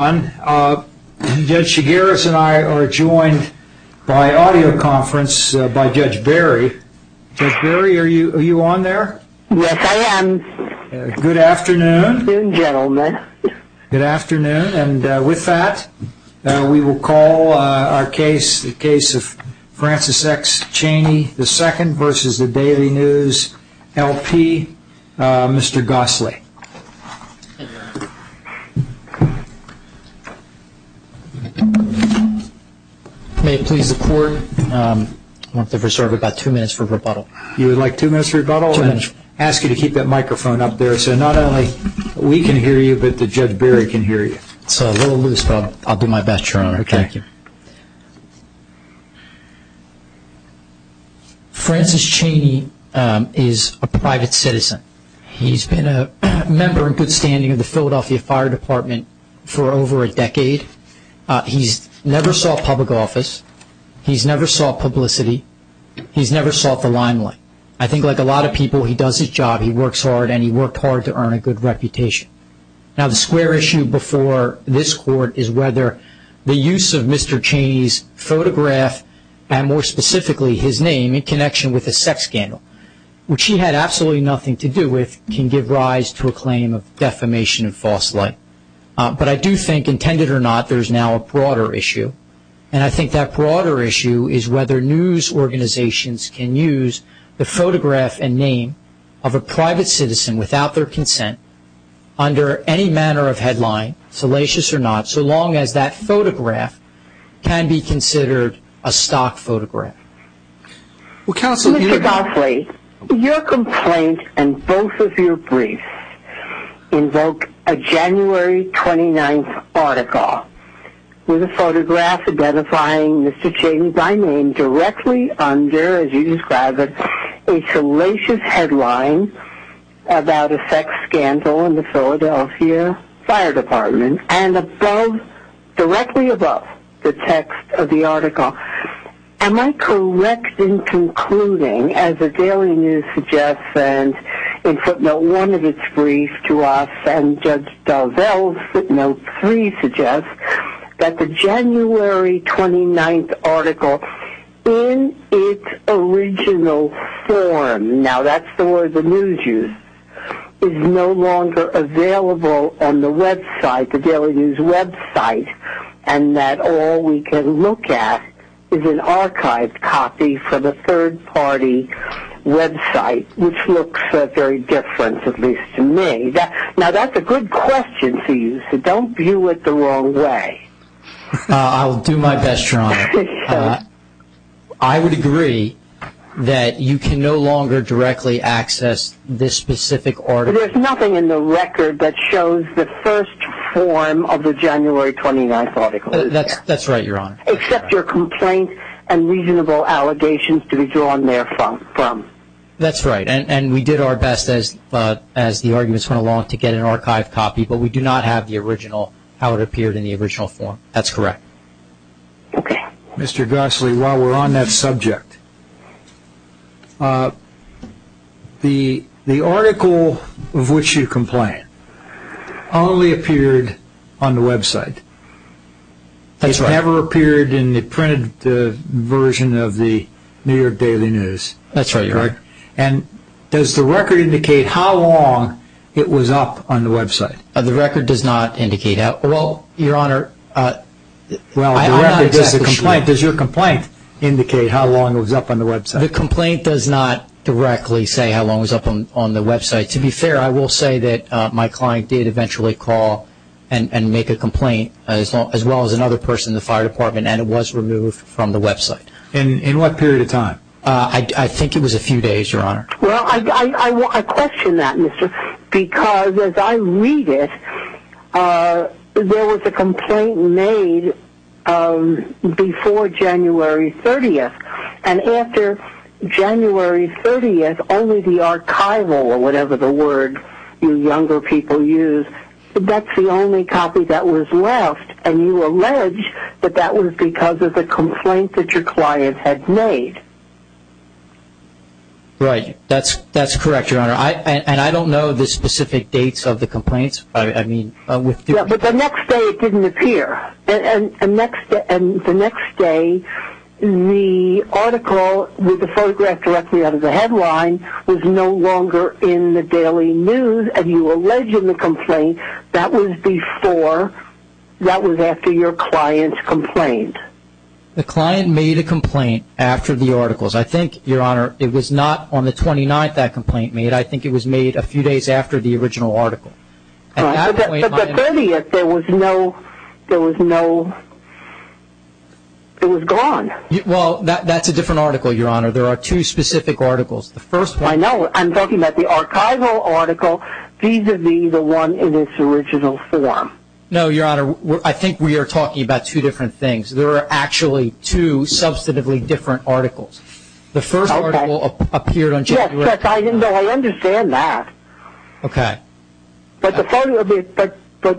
Judge Chigueras and I are joined by audio conference by Judge Barry. Judge Barry, are you on there? Yes, I am. Good afternoon. Good afternoon, gentlemen. Good afternoon. And with that, we will call our case, the case of Francis X. Cheney II v. Daily News LP, Mr. Gosley. May it please the Court, I want to reserve about two minutes for rebuttal. You would like two minutes for rebuttal? Two minutes. I'll ask you to keep that microphone up there so not only we can hear you, but Judge Barry can hear you. It's a little loose, but I'll do my best, Your Honor. Okay. Thank you. Francis Cheney is a private citizen. He's been a member in good standing of the Philadelphia Fire Department for over a decade. He's never sought public office. He's never sought publicity. He's never sought the limelight. I think like a lot of people, he does his job, he works hard, and he worked hard to earn a good reputation. Now, the square issue before this Court is whether the use of Mr. Cheney's photograph, and more specifically his name, in connection with a sex scandal, which he had absolutely nothing to do with, can give rise to a claim of defamation and false light. But I do think, intended or not, there's now a broader issue, and I think that broader issue is whether news organizations can use the photograph and name of a private citizen without their consent, under any manner of headline, salacious or not, so long as that photograph can be considered a stock photograph. Well, Counsel, you know... Mr. Goffley, your complaint and both of your briefs invoke a January 29th article with a photograph identifying Mr. Cheney by name directly under, as you describe it, a salacious headline about a sex scandal in the Philadelphia Fire Department, and above, directly above the text of the article. Am I correct in concluding, as the Daily News suggests, and in footnote one of its brief to us, and Judge Dalzell's footnote three suggests, that the January 29th article, in its original form, now that's the word the news uses, is no longer available on the website, the Daily News website, and that all we can look at is an archived copy from a third-party website, which looks very different, at least to me. Now, that's a good question for you, so don't view it the wrong way. I'll do my best, Your Honor. I would agree that you can no longer directly access this specific article. There's nothing in the record that shows the first form of the January 29th article. That's right, Your Honor. Except your complaint and reasonable allegations to be drawn therefrom. That's right, and we did our best, as the arguments went along, to get an archived copy, but we do not have the original, how it appeared in the original form. That's correct. Mr. Gossely, while we're on that subject, the article of which you complain only appeared on the website. That's right. It only appeared in the printed version of the New York Daily News. That's right, Your Honor. And does the record indicate how long it was up on the website? The record does not indicate that. Well, Your Honor, I'm not exactly sure. Does your complaint indicate how long it was up on the website? The complaint does not directly say how long it was up on the website. To be fair, I will say that my client did eventually call and make a complaint, as well as another person in the fire department, and it was removed from the website. In what period of time? I think it was a few days, Your Honor. Well, I question that, Mr., because as I read it, there was a complaint made before January 30th, and after January 30th, only the archival, or whatever the word you younger people use, that's the only copy that was left. And you allege that that was because of the complaint that your client had made. Right. That's correct, Your Honor. And I don't know the specific dates of the complaints. But the next day it didn't appear. And the next day, the article with the photograph directly under the headline was no longer in the Daily News, and you allege in the complaint that was before, that was after your client's complaint. The client made a complaint after the articles. I think, Your Honor, it was not on the 29th that complaint made. I think it was made a few days after the original article. Right. At that point, my understanding is that there was no, there was no, it was gone. Well, that's a different article, Your Honor. There are two specific articles. I know. I'm talking about the archival article, vis-a-vis the one in its original form. No, Your Honor, I think we are talking about two different things. There are actually two substantively different articles. The first article appeared on January 29th. Yes, I understand that. Okay. But the photo,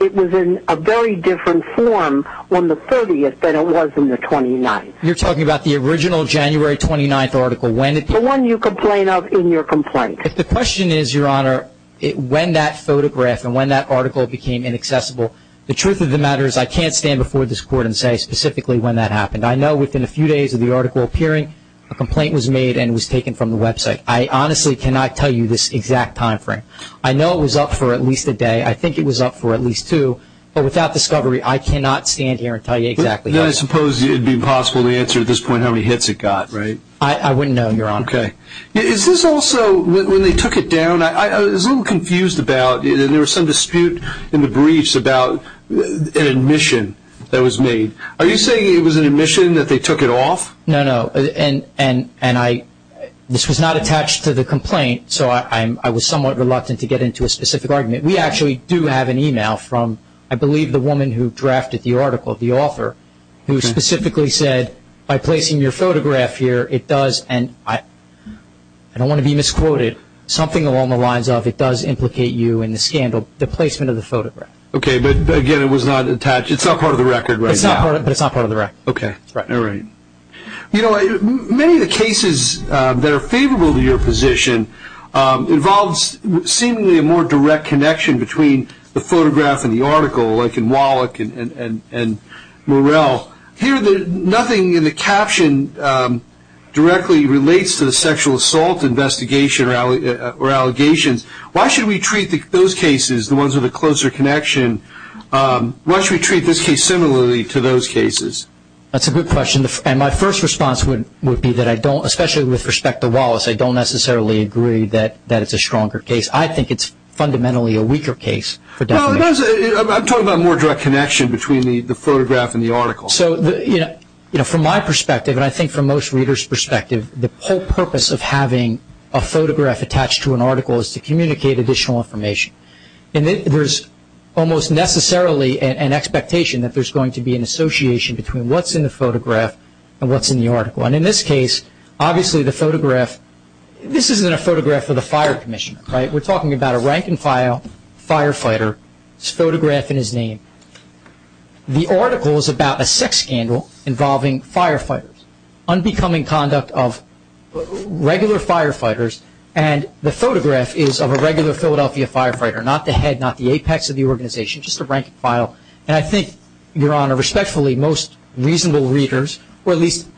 it was in a very different form on the 30th than it was on the 29th. You're talking about the original January 29th article. The one you complain of in your complaint. If the question is, Your Honor, when that photograph and when that article became inaccessible, the truth of the matter is I can't stand before this Court and say specifically when that happened. I know within a few days of the article appearing, a complaint was made and was taken from the website. I honestly cannot tell you this exact time frame. I know it was up for at least a day. I think it was up for at least two. But without discovery, I cannot stand here and tell you exactly. I suppose it would be impossible to answer at this point how many hits it got, right? I wouldn't know, Your Honor. Okay. Is this also when they took it down, I was a little confused about it, and there was some dispute in the briefs about an admission that was made. Are you saying it was an admission that they took it off? No, no, and I, this was not attached to the complaint, so I was somewhat reluctant to get into a specific argument. We actually do have an email from, I believe, the woman who drafted the article, the author, who specifically said, by placing your photograph here, it does, and I don't want to be misquoted, something along the lines of it does implicate you in the scandal, the placement of the photograph. Okay, but, again, it was not attached. It's not part of the record right now. It's not part of the record. Okay. All right. You know, many of the cases that are favorable to your position involves seemingly a more direct connection between the photograph and the article, like in Wallach and Morell. Here, nothing in the caption directly relates to the sexual assault investigation or allegations. Why should we treat those cases, the ones with a closer connection, why should we treat this case similarly to those cases? That's a good question, and my first response would be that I don't, especially with respect to Wallace, I don't necessarily agree that it's a stronger case. I think it's fundamentally a weaker case for definition. I'm talking about a more direct connection between the photograph and the article. So, you know, from my perspective, and I think from most readers' perspective, the whole purpose of having a photograph attached to an article is to communicate additional information, and there's almost necessarily an expectation that there's going to be an association between what's in the photograph and what's in the article, and in this case, obviously the photograph, this isn't a photograph of the fire commissioner, right? We're talking about a rank-and-file firefighter. It's a photograph in his name. The article is about a sex scandal involving firefighters, unbecoming conduct of regular firefighters, and the photograph is of a regular Philadelphia firefighter, not the head, not the apex of the organization, just a rank-and-file, and I think, Your Honor, respectfully, most reasonable readers, or at least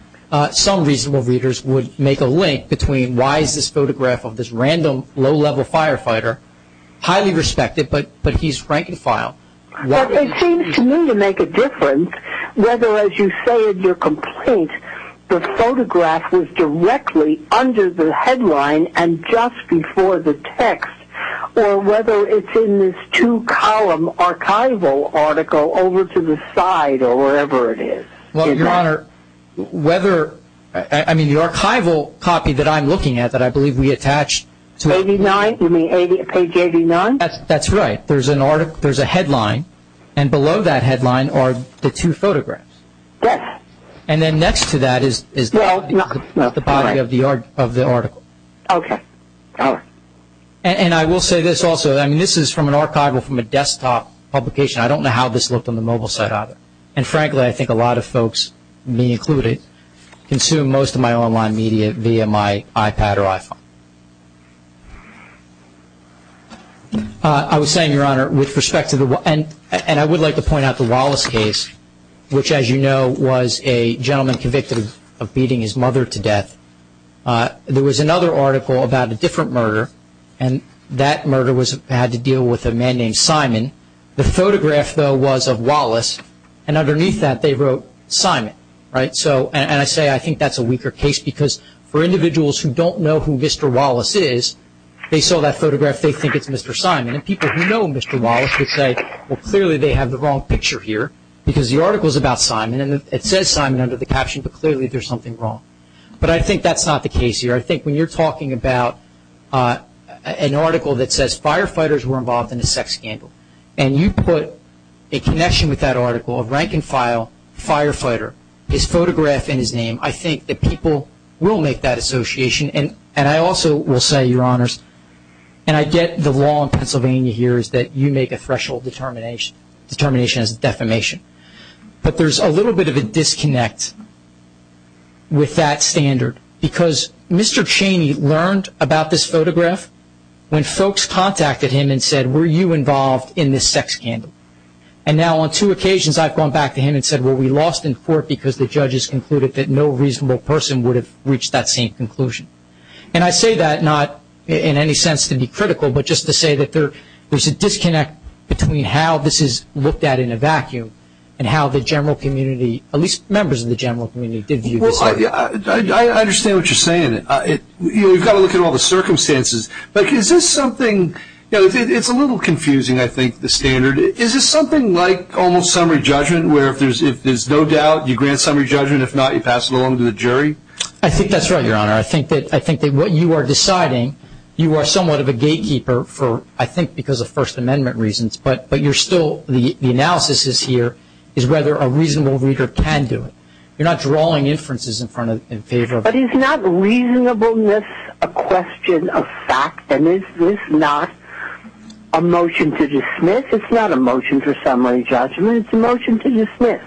some reasonable readers would make a link between why is this photograph of this random, low-level firefighter highly respected, but he's rank-and-file? Well, it seems to me to make a difference whether, as you say in your complaint, the photograph was directly under the headline and just before the text, or whether it's in this two-column archival article over to the side or wherever it is. Well, Your Honor, whether, I mean, the archival copy that I'm looking at that I believe we attached to it. Page 89, you mean page 89? That's right. There's a headline, and below that headline are the two photographs. Yes. And then next to that is the body of the article. Okay. All right. And I will say this also. I mean, this is from an archival from a desktop publication. I don't know how this looked on the mobile site either, and frankly I think a lot of folks, me included, consume most of my online media via my iPad or iPhone. I was saying, Your Honor, with respect to the – and I would like to point out the Wallace case, which as you know was a gentleman convicted of beating his mother to death. There was another article about a different murder, and that murder had to deal with a man named Simon. The photograph, though, was of Wallace, and underneath that they wrote Simon, right? And I say I think that's a weaker case because for individuals who don't know who Mr. Wallace is, they saw that photograph, they think it's Mr. Simon, and people who know Mr. Wallace would say, well, clearly they have the wrong picture here because the article is about Simon and it says Simon under the caption, but clearly there's something wrong. But I think that's not the case here. I think when you're talking about an article that says firefighters were involved in a sex scandal and you put a connection with that article of rank and file firefighter, his photograph and his name, I think that people will make that association. And I also will say, Your Honors, and I get the law in Pennsylvania here is that you make a threshold determination as a defamation, but there's a little bit of a disconnect with that standard because Mr. Cheney learned about this photograph when folks contacted him and said, were you involved in this sex scandal? And now on two occasions I've gone back to him and said, well, we lost in court because the judges concluded that no reasonable person would have reached that same conclusion. And I say that not in any sense to be critical, but just to say that there's a disconnect between how this is looked at in a vacuum and how the general community, at least members of the general community, did view this. I understand what you're saying. You've got to look at all the circumstances. But is this something, it's a little confusing, I think, the standard. Is this something like almost summary judgment where if there's no doubt you grant summary judgment, if not you pass it along to the jury? I think that's right, Your Honor. I think that what you are deciding, you are somewhat of a gatekeeper for, I think, because of First Amendment reasons, but you're still, the analysis is here, is whether a reasonable reader can do it. You're not drawing inferences in favor of it. But is not reasonableness a question of fact? And is this not a motion to dismiss? It's not a motion for summary judgment. It's a motion to dismiss.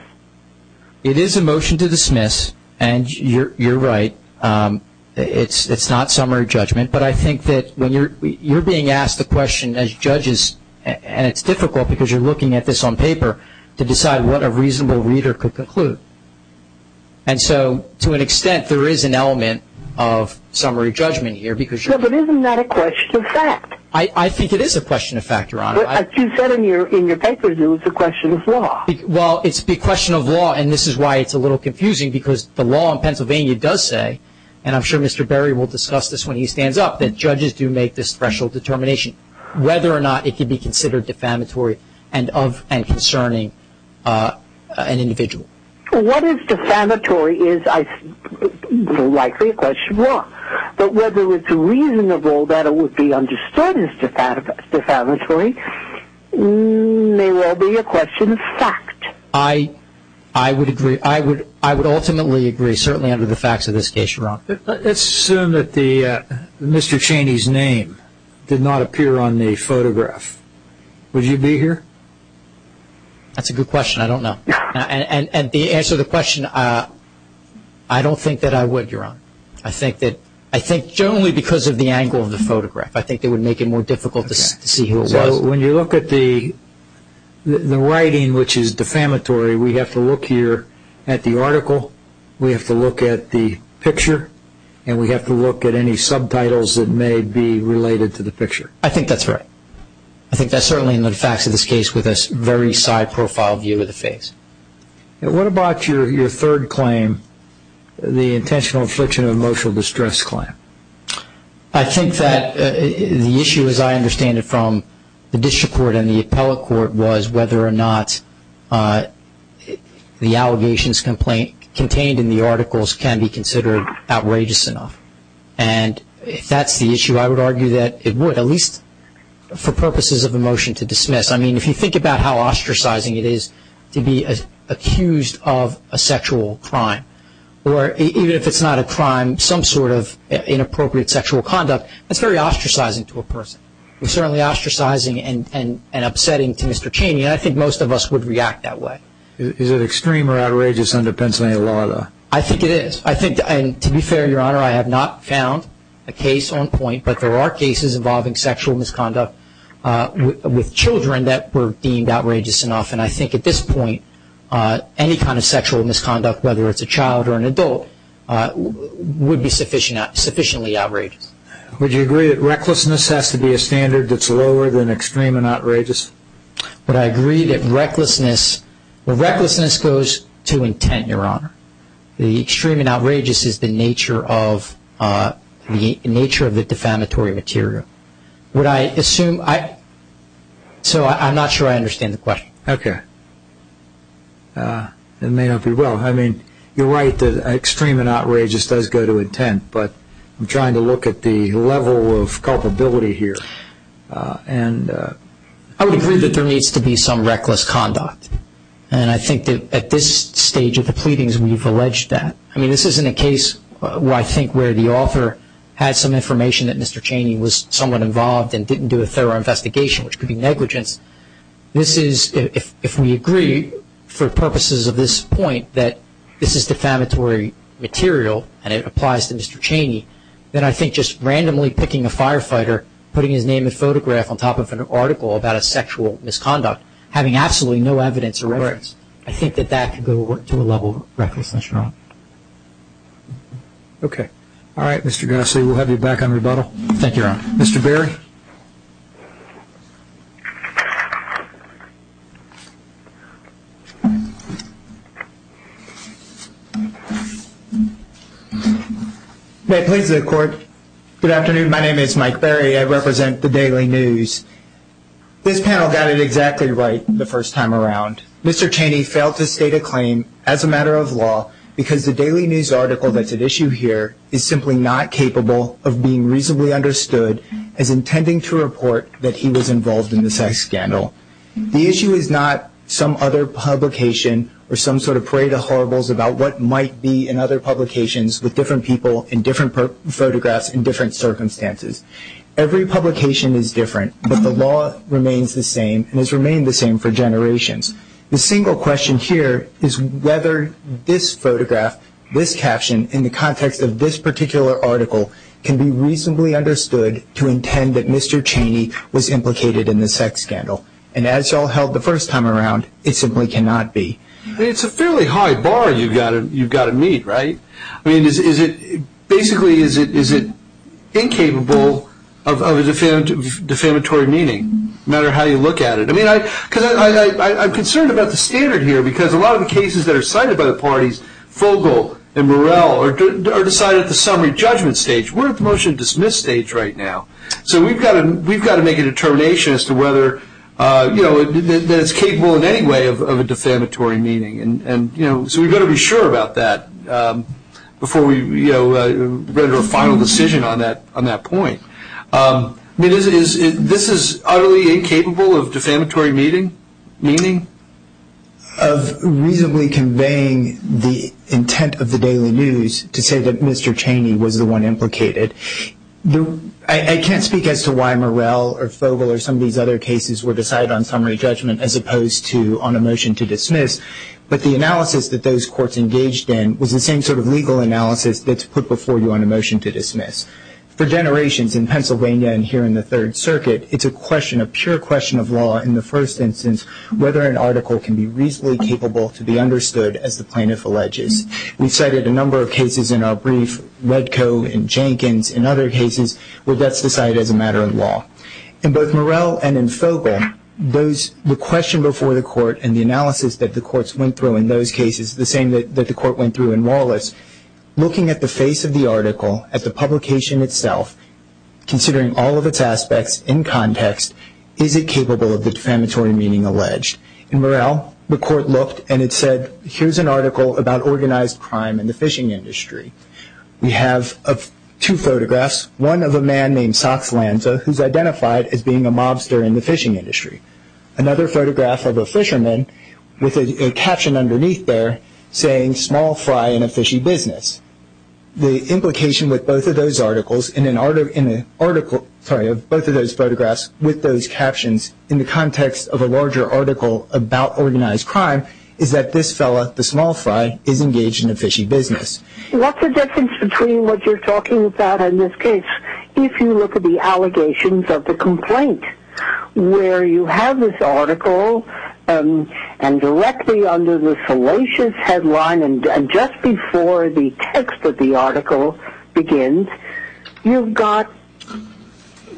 It is a motion to dismiss, and you're right. It's not summary judgment. But I think that when you're being asked the question as judges, and it's difficult because you're looking at this on paper, to decide what a reasonable reader could conclude. And so, to an extent, there is an element of summary judgment here. But isn't that a question of fact? I think it is a question of fact, Your Honor. But you said in your paper it was a question of law. Well, it's a question of law, and this is why it's a little confusing, because the law in Pennsylvania does say, and I'm sure Mr. Berry will discuss this when he stands up, that judges do make this threshold determination. Whether or not it could be considered defamatory and concerning an individual. What is defamatory is likely a question of law. But whether it's reasonable that it would be understood as defamatory may well be a question of fact. I would ultimately agree, certainly under the facts of this case, Your Honor. Let's assume that Mr. Cheney's name did not appear on the photograph. Would you be here? That's a good question. I don't know. And to answer the question, I don't think that I would, Your Honor. I think only because of the angle of the photograph. I think it would make it more difficult to see who it was. When you look at the writing, which is defamatory, we have to look here at the article. We have to look at the picture. And we have to look at any subtitles that may be related to the picture. I think that's right. I think that's certainly in the facts of this case with a very side profile view of the face. What about your third claim, the intentional infliction of emotional distress claim? I think that the issue, as I understand it, from the district court and the appellate court, was whether or not the allegations contained in the articles can be considered outrageous enough. And if that's the issue, I would argue that it would, at least for purposes of a motion to dismiss. I mean, if you think about how ostracizing it is to be accused of a sexual crime, or even if it's not a crime, some sort of inappropriate sexual conduct, that's very ostracizing to a person. It's certainly ostracizing and upsetting to Mr. Chaney, and I think most of us would react that way. Is it extreme or outrageous under Pennsylvania law, though? I think it is. I think, and to be fair, Your Honor, I have not found a case on point, but there are cases involving sexual misconduct with children that were deemed outrageous enough. And I think at this point, any kind of sexual misconduct, whether it's a child or an adult, would be sufficiently outrageous. Would you agree that recklessness has to be a standard that's lower than extreme and outrageous? Would I agree that recklessness, well, recklessness goes to intent, Your Honor. The extreme and outrageous is the nature of the defamatory material. Would I assume, so I'm not sure I understand the question. Okay. It may not be well, I mean, you're right that extreme and outrageous does go to intent, but I'm trying to look at the level of culpability here. I would agree that there needs to be some reckless conduct. And I think that at this stage of the pleadings, we've alleged that. I mean, this isn't a case where I think the author had some information that Mr. Chaney was somewhat involved and didn't do a thorough investigation, which could be negligence. This is, if we agree for purposes of this point that this is defamatory material and it applies to Mr. Chaney, then I think just randomly picking a firefighter, putting his name and photograph on top of an article about a sexual misconduct, having absolutely no evidence or reference, I think that that could go to a level of recklessness, Your Honor. Okay. All right, Mr. Gassi, we'll have you back on rebuttal. Thank you, Your Honor. Mr. Berry? May I please have the court? Good afternoon. My name is Mike Berry. I represent the Daily News. This panel got it exactly right the first time around. Mr. Chaney failed to state a claim as a matter of law because the Daily News article that's at issue here is simply not capable of being reasonably understood as intending to report that he was involved in the sex scandal. The issue is not some other publication or some sort of parade of horribles about what might be in other publications with different people in different photographs in different circumstances. Every publication is different, but the law remains the same and has remained the same for generations. The single question here is whether this photograph, this caption, in the context of this particular article, can be reasonably understood to intend that Mr. Chaney was implicated in the sex scandal. And as you all held the first time around, it simply cannot be. It's a fairly high bar you've got to meet, right? I mean, basically, is it incapable of a defamatory meaning, no matter how you look at it? I'm concerned about the standard here because a lot of the cases that are cited by the parties, Fogel and Morrell, are decided at the summary judgment stage. We're at the motion to dismiss stage right now. So we've got to make a determination as to whether it's capable in any way of a defamatory meaning. So we've got to be sure about that before we render a final decision on that point. This is utterly incapable of defamatory meaning? Of reasonably conveying the intent of the Daily News to say that Mr. Chaney was the one implicated. I can't speak as to why Morrell or Fogel or some of these other cases were decided on summary judgment as opposed to on a motion to dismiss, but the analysis that those courts engaged in was the same sort of legal analysis that's put before you on a motion to dismiss. For generations in Pennsylvania and here in the Third Circuit, it's a question, a pure question of law in the first instance, whether an article can be reasonably capable to be understood as the plaintiff alleges. We've cited a number of cases in our brief, Wedko and Jenkins and other cases, where that's decided as a matter of law. In both Morrell and in Fogel, the question before the court and the analysis that the courts went through in those cases, the same that the court went through in Wallace, was looking at the face of the article, at the publication itself, considering all of its aspects in context, is it capable of the defamatory meaning alleged? In Morrell, the court looked and it said, here's an article about organized crime in the fishing industry. We have two photographs, one of a man named Socks Lanza, who's identified as being a mobster in the fishing industry. Another photograph of a fisherman with a caption underneath there saying, small fry in a fishy business. The implication with both of those articles in an article, sorry, of both of those photographs with those captions in the context of a larger article about organized crime, is that this fellow, the small fry, is engaged in a fishy business. What's the difference between what you're talking about in this case? If you look at the allegations of the complaint, where you have this article and directly under the salacious headline and just before the text of the article begins, you've got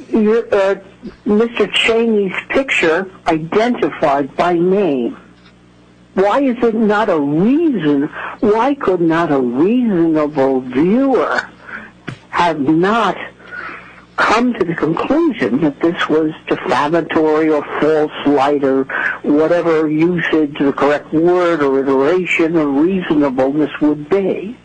Mr. Cheney's picture identified by name. Why is it not a reason, why could not a reasonable viewer have not come to the conclusion that this was defamatory or false light or whatever usage or correct word or iteration or reasonableness would be?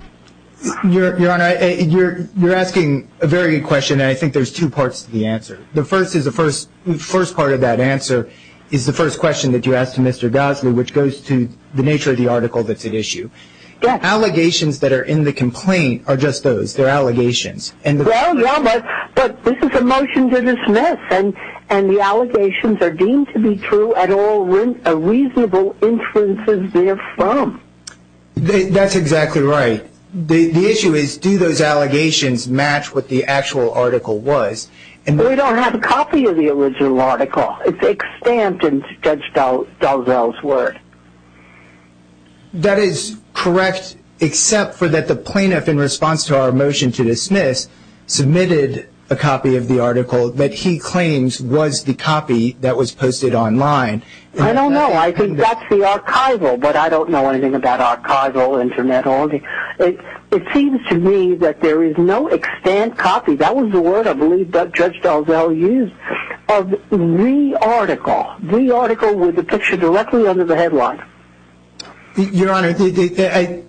Your Honor, you're asking a very good question, and I think there's two parts to the answer. The first part of that answer is the first question that you asked to Mr. Gosley, which goes to the nature of the article that's at issue. Allegations that are in the complaint are just those, they're allegations. Well, yeah, but this is a motion to dismiss, and the allegations are deemed to be true at all reasonable inferences therefrom. That's exactly right. The issue is do those allegations match what the actual article was? We don't have a copy of the original article. It's extant in Judge Dalzell's word. That is correct, except for that the plaintiff, in response to our motion to dismiss, submitted a copy of the article that he claims was the copy that was posted online. I don't know. I think that's the archival, but I don't know anything about archival, internet or anything. It seems to me that there is no extant copy, that was the word I believe Judge Dalzell used, of the article, the article with the picture directly under the headline. Your Honor, I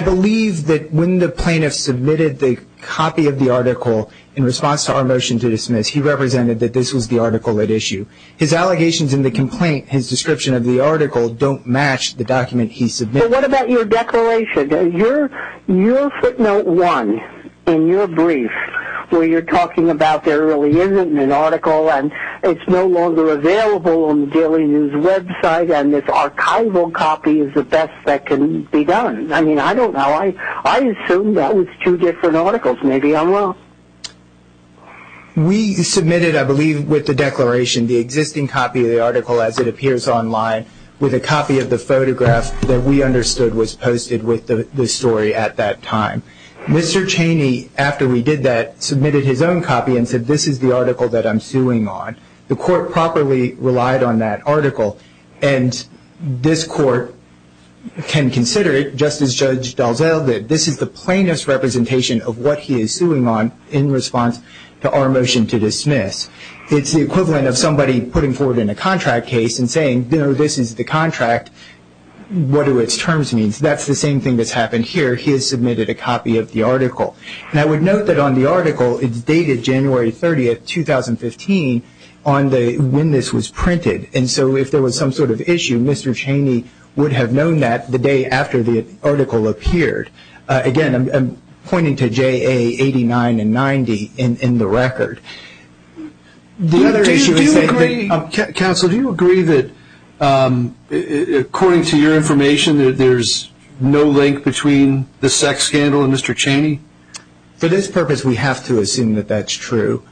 believe that when the plaintiff submitted the copy of the article, in response to our motion to dismiss, he represented that this was the article at issue. His allegations in the complaint, his description of the article, don't match the document he submitted. Well, what about your declaration? Your footnote one in your brief, where you're talking about there really isn't an article and it's no longer available on the Daily News website and this archival copy is the best that can be done. I mean, I don't know. I assume that was two different articles. Maybe I'm wrong. We submitted, I believe, with the declaration, the existing copy of the article as it appears online, with a copy of the photograph that we understood was posted with the story at that time. Mr. Chaney, after we did that, submitted his own copy and said this is the article that I'm suing on. The court properly relied on that article and this court can consider it just as Judge Dalziel did. This is the plaintiff's representation of what he is suing on in response to our motion to dismiss. It's the equivalent of somebody putting forward in a contract case and saying, you know, this is the contract. What do its terms mean? That's the same thing that's happened here. He has submitted a copy of the article. And I would note that on the article it's dated January 30th, 2015, on when this was printed. And so if there was some sort of issue, Mr. Chaney would have known that the day after the article appeared. Again, I'm pointing to JA 89 and 90 in the record. Counsel, do you agree that, according to your information, there's no link between the sex scandal and Mr. Chaney? For this purpose, we have to assume that that's true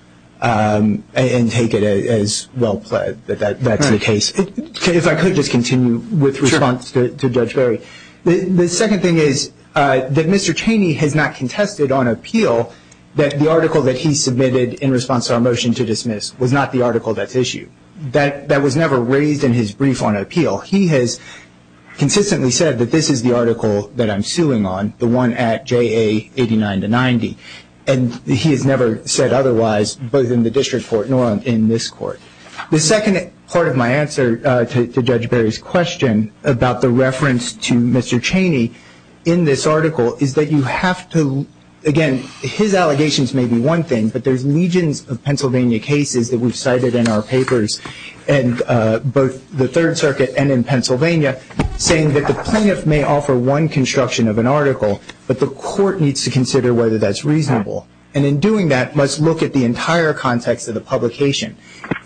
and take it as well pled that that's the case. If I could just continue with response to Judge Barry. The second thing is that Mr. Chaney has not contested on appeal that the article that he submitted in response to our motion to dismiss was not the article that's issued. That was never raised in his brief on appeal. He has consistently said that this is the article that I'm suing on, the one at JA 89 to 90. And he has never said otherwise, both in the district court nor in this court. The second part of my answer to Judge Barry's question about the reference to Mr. Chaney in this article is that you have to, again, his allegations may be one thing, but there's legions of Pennsylvania cases that we've cited in our papers, both the Third Circuit and in Pennsylvania, saying that the plaintiff may offer one construction of an article, but the court needs to consider whether that's reasonable. And in doing that, must look at the entire context of the publication,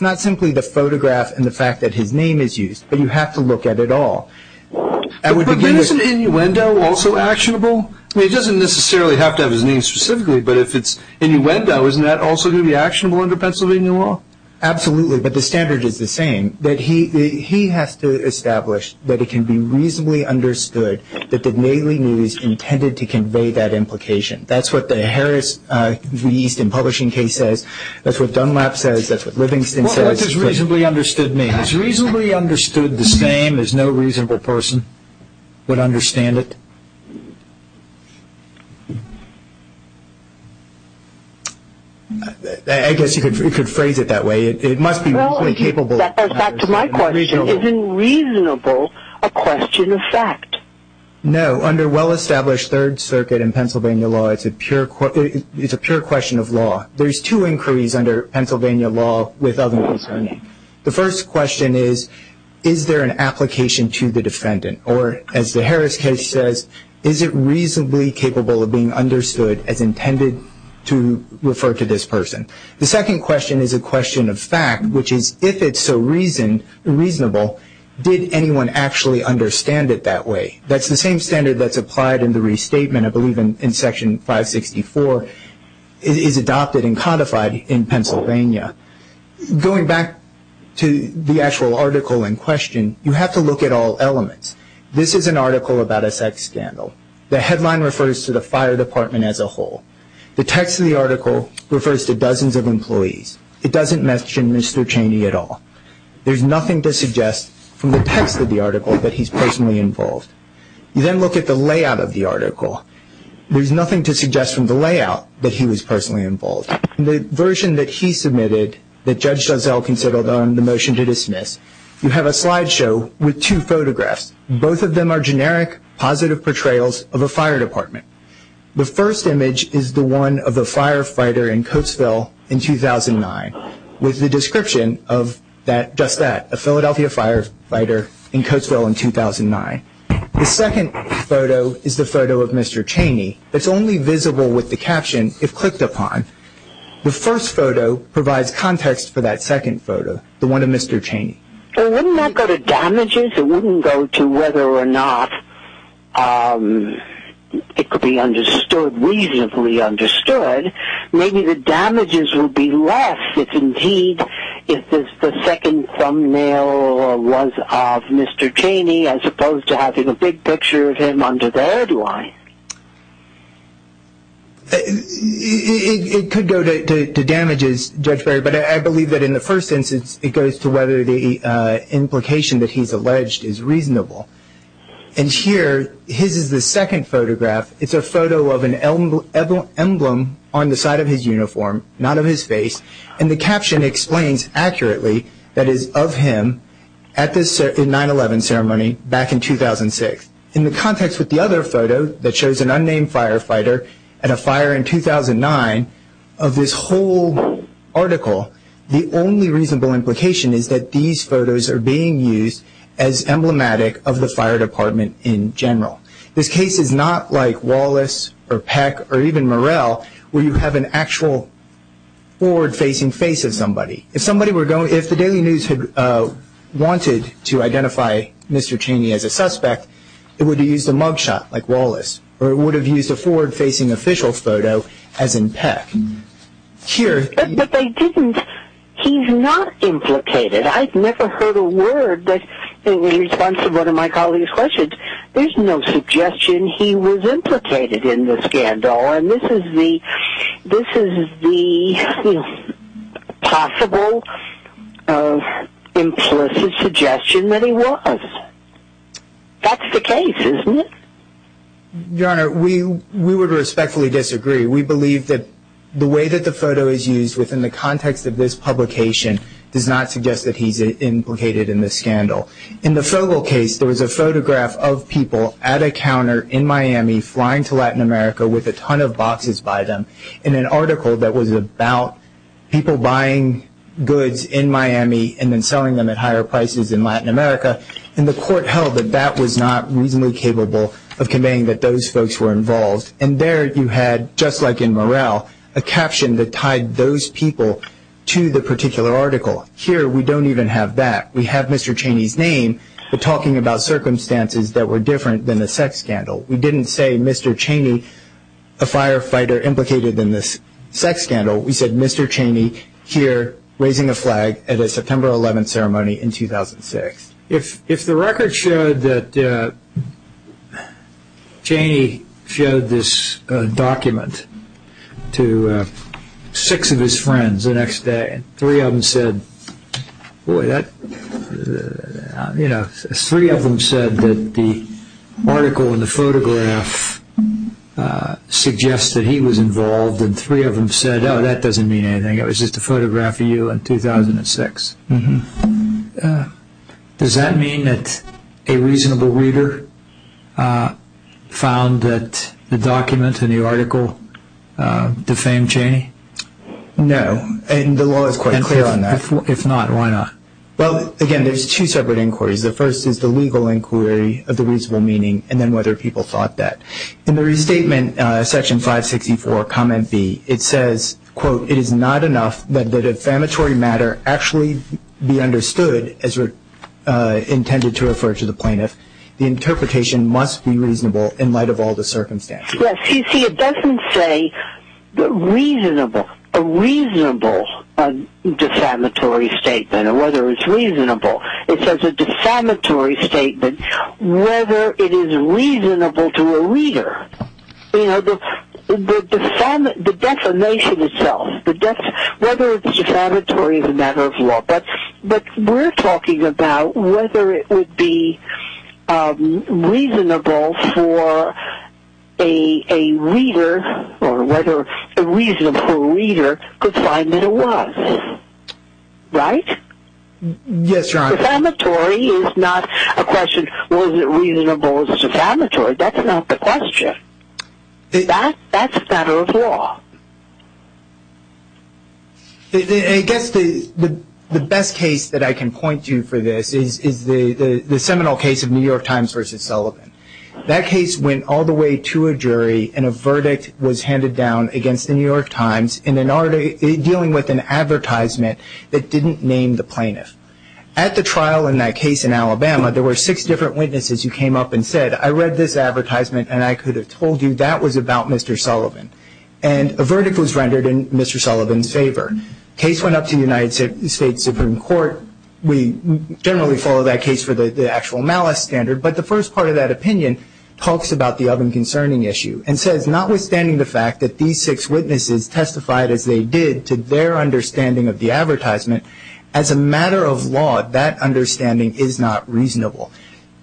not simply the photograph and the fact that his name is used, but you have to look at it all. But isn't innuendo also actionable? I mean, it doesn't necessarily have to have his name specifically, but if it's innuendo, isn't that also going to be actionable under Pennsylvania law? Absolutely, but the standard is the same, that he has to establish that it can be reasonably understood that the daily news intended to convey that implication. That's what the Harris Easton publishing case says. That's what Dunlap says. That's what Livingston says. What does reasonably understood mean? Is reasonably understood the same as no reasonable person would understand it? I guess you could phrase it that way. It must be reasonably capable. Well, that goes back to my question. Isn't reasonable a question of fact? No, under well-established Third Circuit and Pennsylvania law, it's a pure question of law. There's two inquiries under Pennsylvania law with other concerning. The first question is, is there an application to the defendant? Or, as the Harris case says, is it reasonably capable of being understood as intended to refer to this person? The second question is a question of fact, which is, if it's so reasonable, did anyone actually understand it that way? That's the same standard that's applied in the restatement, I believe, in Section 564, is adopted and codified in Pennsylvania. Going back to the actual article in question, you have to look at all elements. This is an article about a sex scandal. The headline refers to the fire department as a whole. The text of the article refers to dozens of employees. It doesn't mention Mr. Cheney at all. There's nothing to suggest from the text of the article that he's personally involved. You then look at the layout of the article. There's nothing to suggest from the layout that he was personally involved. In the version that he submitted, that Judge Dozell considered on the motion to dismiss, you have a slideshow with two photographs. Both of them are generic, positive portrayals of a fire department. The first image is the one of a firefighter in Coatesville in 2009 with the description of just that, a Philadelphia firefighter in Coatesville in 2009. The second photo is the photo of Mr. Cheney. It's only visible with the caption if clicked upon. The first photo provides context for that second photo, the one of Mr. Cheney. Well, wouldn't that go to damages? It wouldn't go to whether or not it could be understood, reasonably understood. Maybe the damages would be less if, indeed, if the second thumbnail was of Mr. Cheney as opposed to having a big picture of him under there. Do I? It could go to damages, Judge Berry, but I believe that in the first instance it goes to whether the implication that he's alleged is reasonable. And here, his is the second photograph. It's a photo of an emblem on the side of his uniform, not of his face, and the caption explains accurately that it is of him at the 9-11 ceremony back in 2006. In the context with the other photo that shows an unnamed firefighter at a fire in 2009, of this whole article, the only reasonable implication is that these photos are being used as emblematic of the fire department in general. This case is not like Wallace or Peck or even Murrell, where you have an actual forward-facing face of somebody. If the Daily News had wanted to identify Mr. Cheney as a suspect, it would have used a mugshot like Wallace, or it would have used a forward-facing official photo as in Peck. But they didn't. He's not implicated. There's no suggestion he was implicated in the scandal, and this is the possible implicit suggestion that he was. That's the case, isn't it? Your Honor, we would respectfully disagree. We believe that the way that the photo is used within the context of this publication In the Fogel case, there was a photograph of people at a counter in Miami flying to Latin America with a ton of boxes by them in an article that was about people buying goods in Miami and then selling them at higher prices in Latin America, and the court held that that was not reasonably capable of conveying that those folks were involved. And there you had, just like in Murrell, a caption that tied those people to the particular article. Here we don't even have that. We have Mr. Cheney's name, but talking about circumstances that were different than the sex scandal. We didn't say, Mr. Cheney, a firefighter implicated in this sex scandal. We said, Mr. Cheney here raising a flag at a September 11th ceremony in 2006. If the record showed that Cheney showed this document to six of his friends the next day, three of them said that the article in the photograph suggests that he was involved, and three of them said, oh, that doesn't mean anything. It was just a photograph of you in 2006. Does that mean that a reasonable reader found that the document in the article defamed Cheney? No, and the law is quite clear on that. If not, why not? Well, again, there's two separate inquiries. The first is the legal inquiry of the reasonable meaning, and then whether people thought that. In the restatement, Section 564, Comment B, it says, quote, it is not enough that the defamatory matter actually be understood, as intended to refer to the plaintiff. The interpretation must be reasonable in light of all the circumstances. Yes, you see, it doesn't say reasonable, a reasonable defamatory statement, or whether it's reasonable. It says a defamatory statement, whether it is reasonable to a reader. You know, the defamation itself, whether it's defamatory is a matter of law. But we're talking about whether it would be reasonable for a reader, or whether a reasonable reader could find that it was. Right? Yes, Your Honor. Defamatory is not a question, was it reasonable or was it defamatory? That's not the question. That's a matter of law. I guess the best case that I can point to for this is the seminal case of New York Times v. Sullivan. That case went all the way to a jury, and a verdict was handed down against the New York Times in dealing with an advertisement that didn't name the plaintiff. At the trial in that case in Alabama, there were six different witnesses who came up and said, I read this advertisement, and I could have told you that was about Mr. Sullivan. And a verdict was rendered in Mr. Sullivan's favor. The case went up to the United States Supreme Court. We generally follow that case for the actual malice standard, but the first part of that opinion talks about the other concerning issue and says, notwithstanding the fact that these six witnesses testified as they did to their understanding of the advertisement, as a matter of law, that understanding is not reasonable.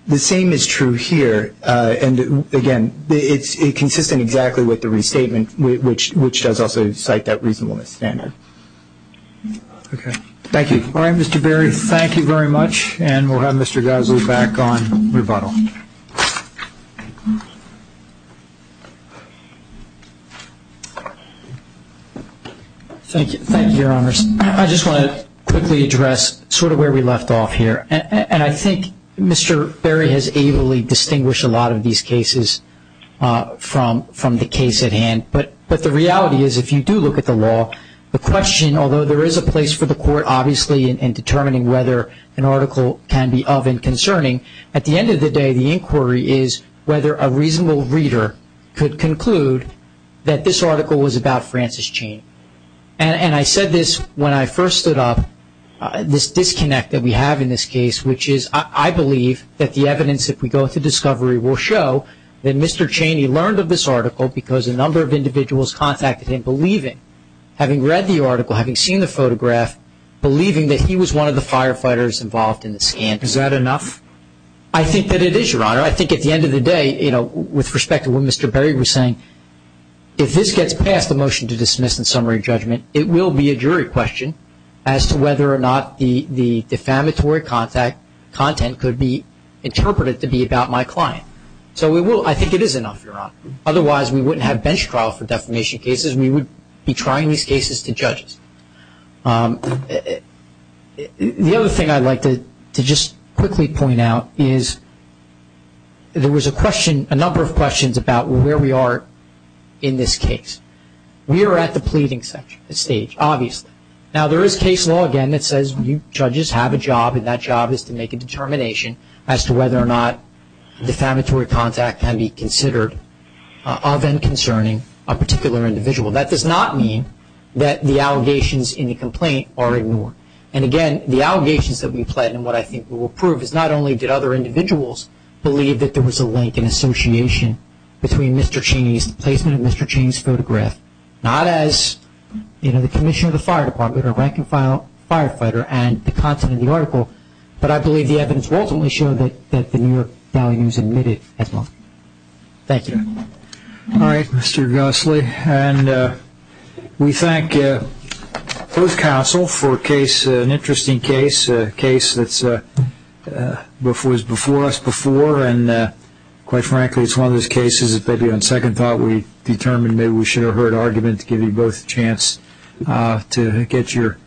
The same is true here. Again, it's consistent exactly with the restatement, which does also cite that reasonableness standard. Thank you. All right, Mr. Berry, thank you very much. And we'll have Mr. Gosley back on rebuttal. Thank you, Your Honors. I just want to quickly address sort of where we left off here. And I think Mr. Berry has ably distinguished a lot of these cases from the case at hand. But the reality is, if you do look at the law, the question, although there is a place for the court obviously in determining whether an article can be of and concerning, at the end of the day, the inquiry is whether a reasonable reader could conclude that this article was about Francis Chain. And I said this when I first stood up, this disconnect that we have in this case, which is I believe that the evidence, if we go to discovery, will show that Mr. Chaney learned of this article because a number of individuals contacted him believing, having read the article, having seen the photograph, believing that he was one of the firefighters involved in the scan. Is that enough? I think that it is, Your Honor. I think at the end of the day, you know, with respect to what Mr. Berry was saying, if this gets past the motion to dismiss in summary judgment, it will be a jury question as to whether or not the defamatory content could be interpreted to be about my client. So I think it is enough, Your Honor. Otherwise, we wouldn't have bench trial for defamation cases. We would be trying these cases to judges. The other thing I'd like to just quickly point out is there was a question, a number of questions about where we are in this case. We are at the pleading stage, obviously. Now, there is case law, again, that says judges have a job, and that job is to make a determination as to whether or not defamatory content can be considered of and concerning a particular individual. That does not mean that the allegations in the complaint are ignored. And, again, the allegations that we plead and what I think we will prove is not only did other individuals believe that there was a link and association between Mr. Cheney's placement of Mr. Cheney's photograph, not as, you know, the commissioner of the fire department or rank-and-file firefighter and the content of the article, but I believe the evidence will ultimately show that the New York values admitted as well. Thank you. All right, Mr. Gosley. And we thank both counsel for an interesting case, a case that was before us before, and quite frankly it's one of those cases that maybe on second thought we determined maybe we should have heard argument to give you both a chance to get your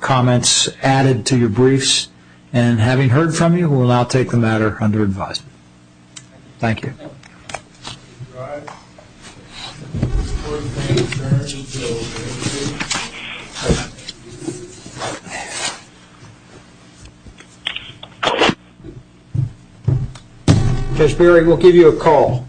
comments added to your briefs. And having heard from you, we will now take the matter under advisement. Thank you. All right. Judge Berry, we'll give you a call.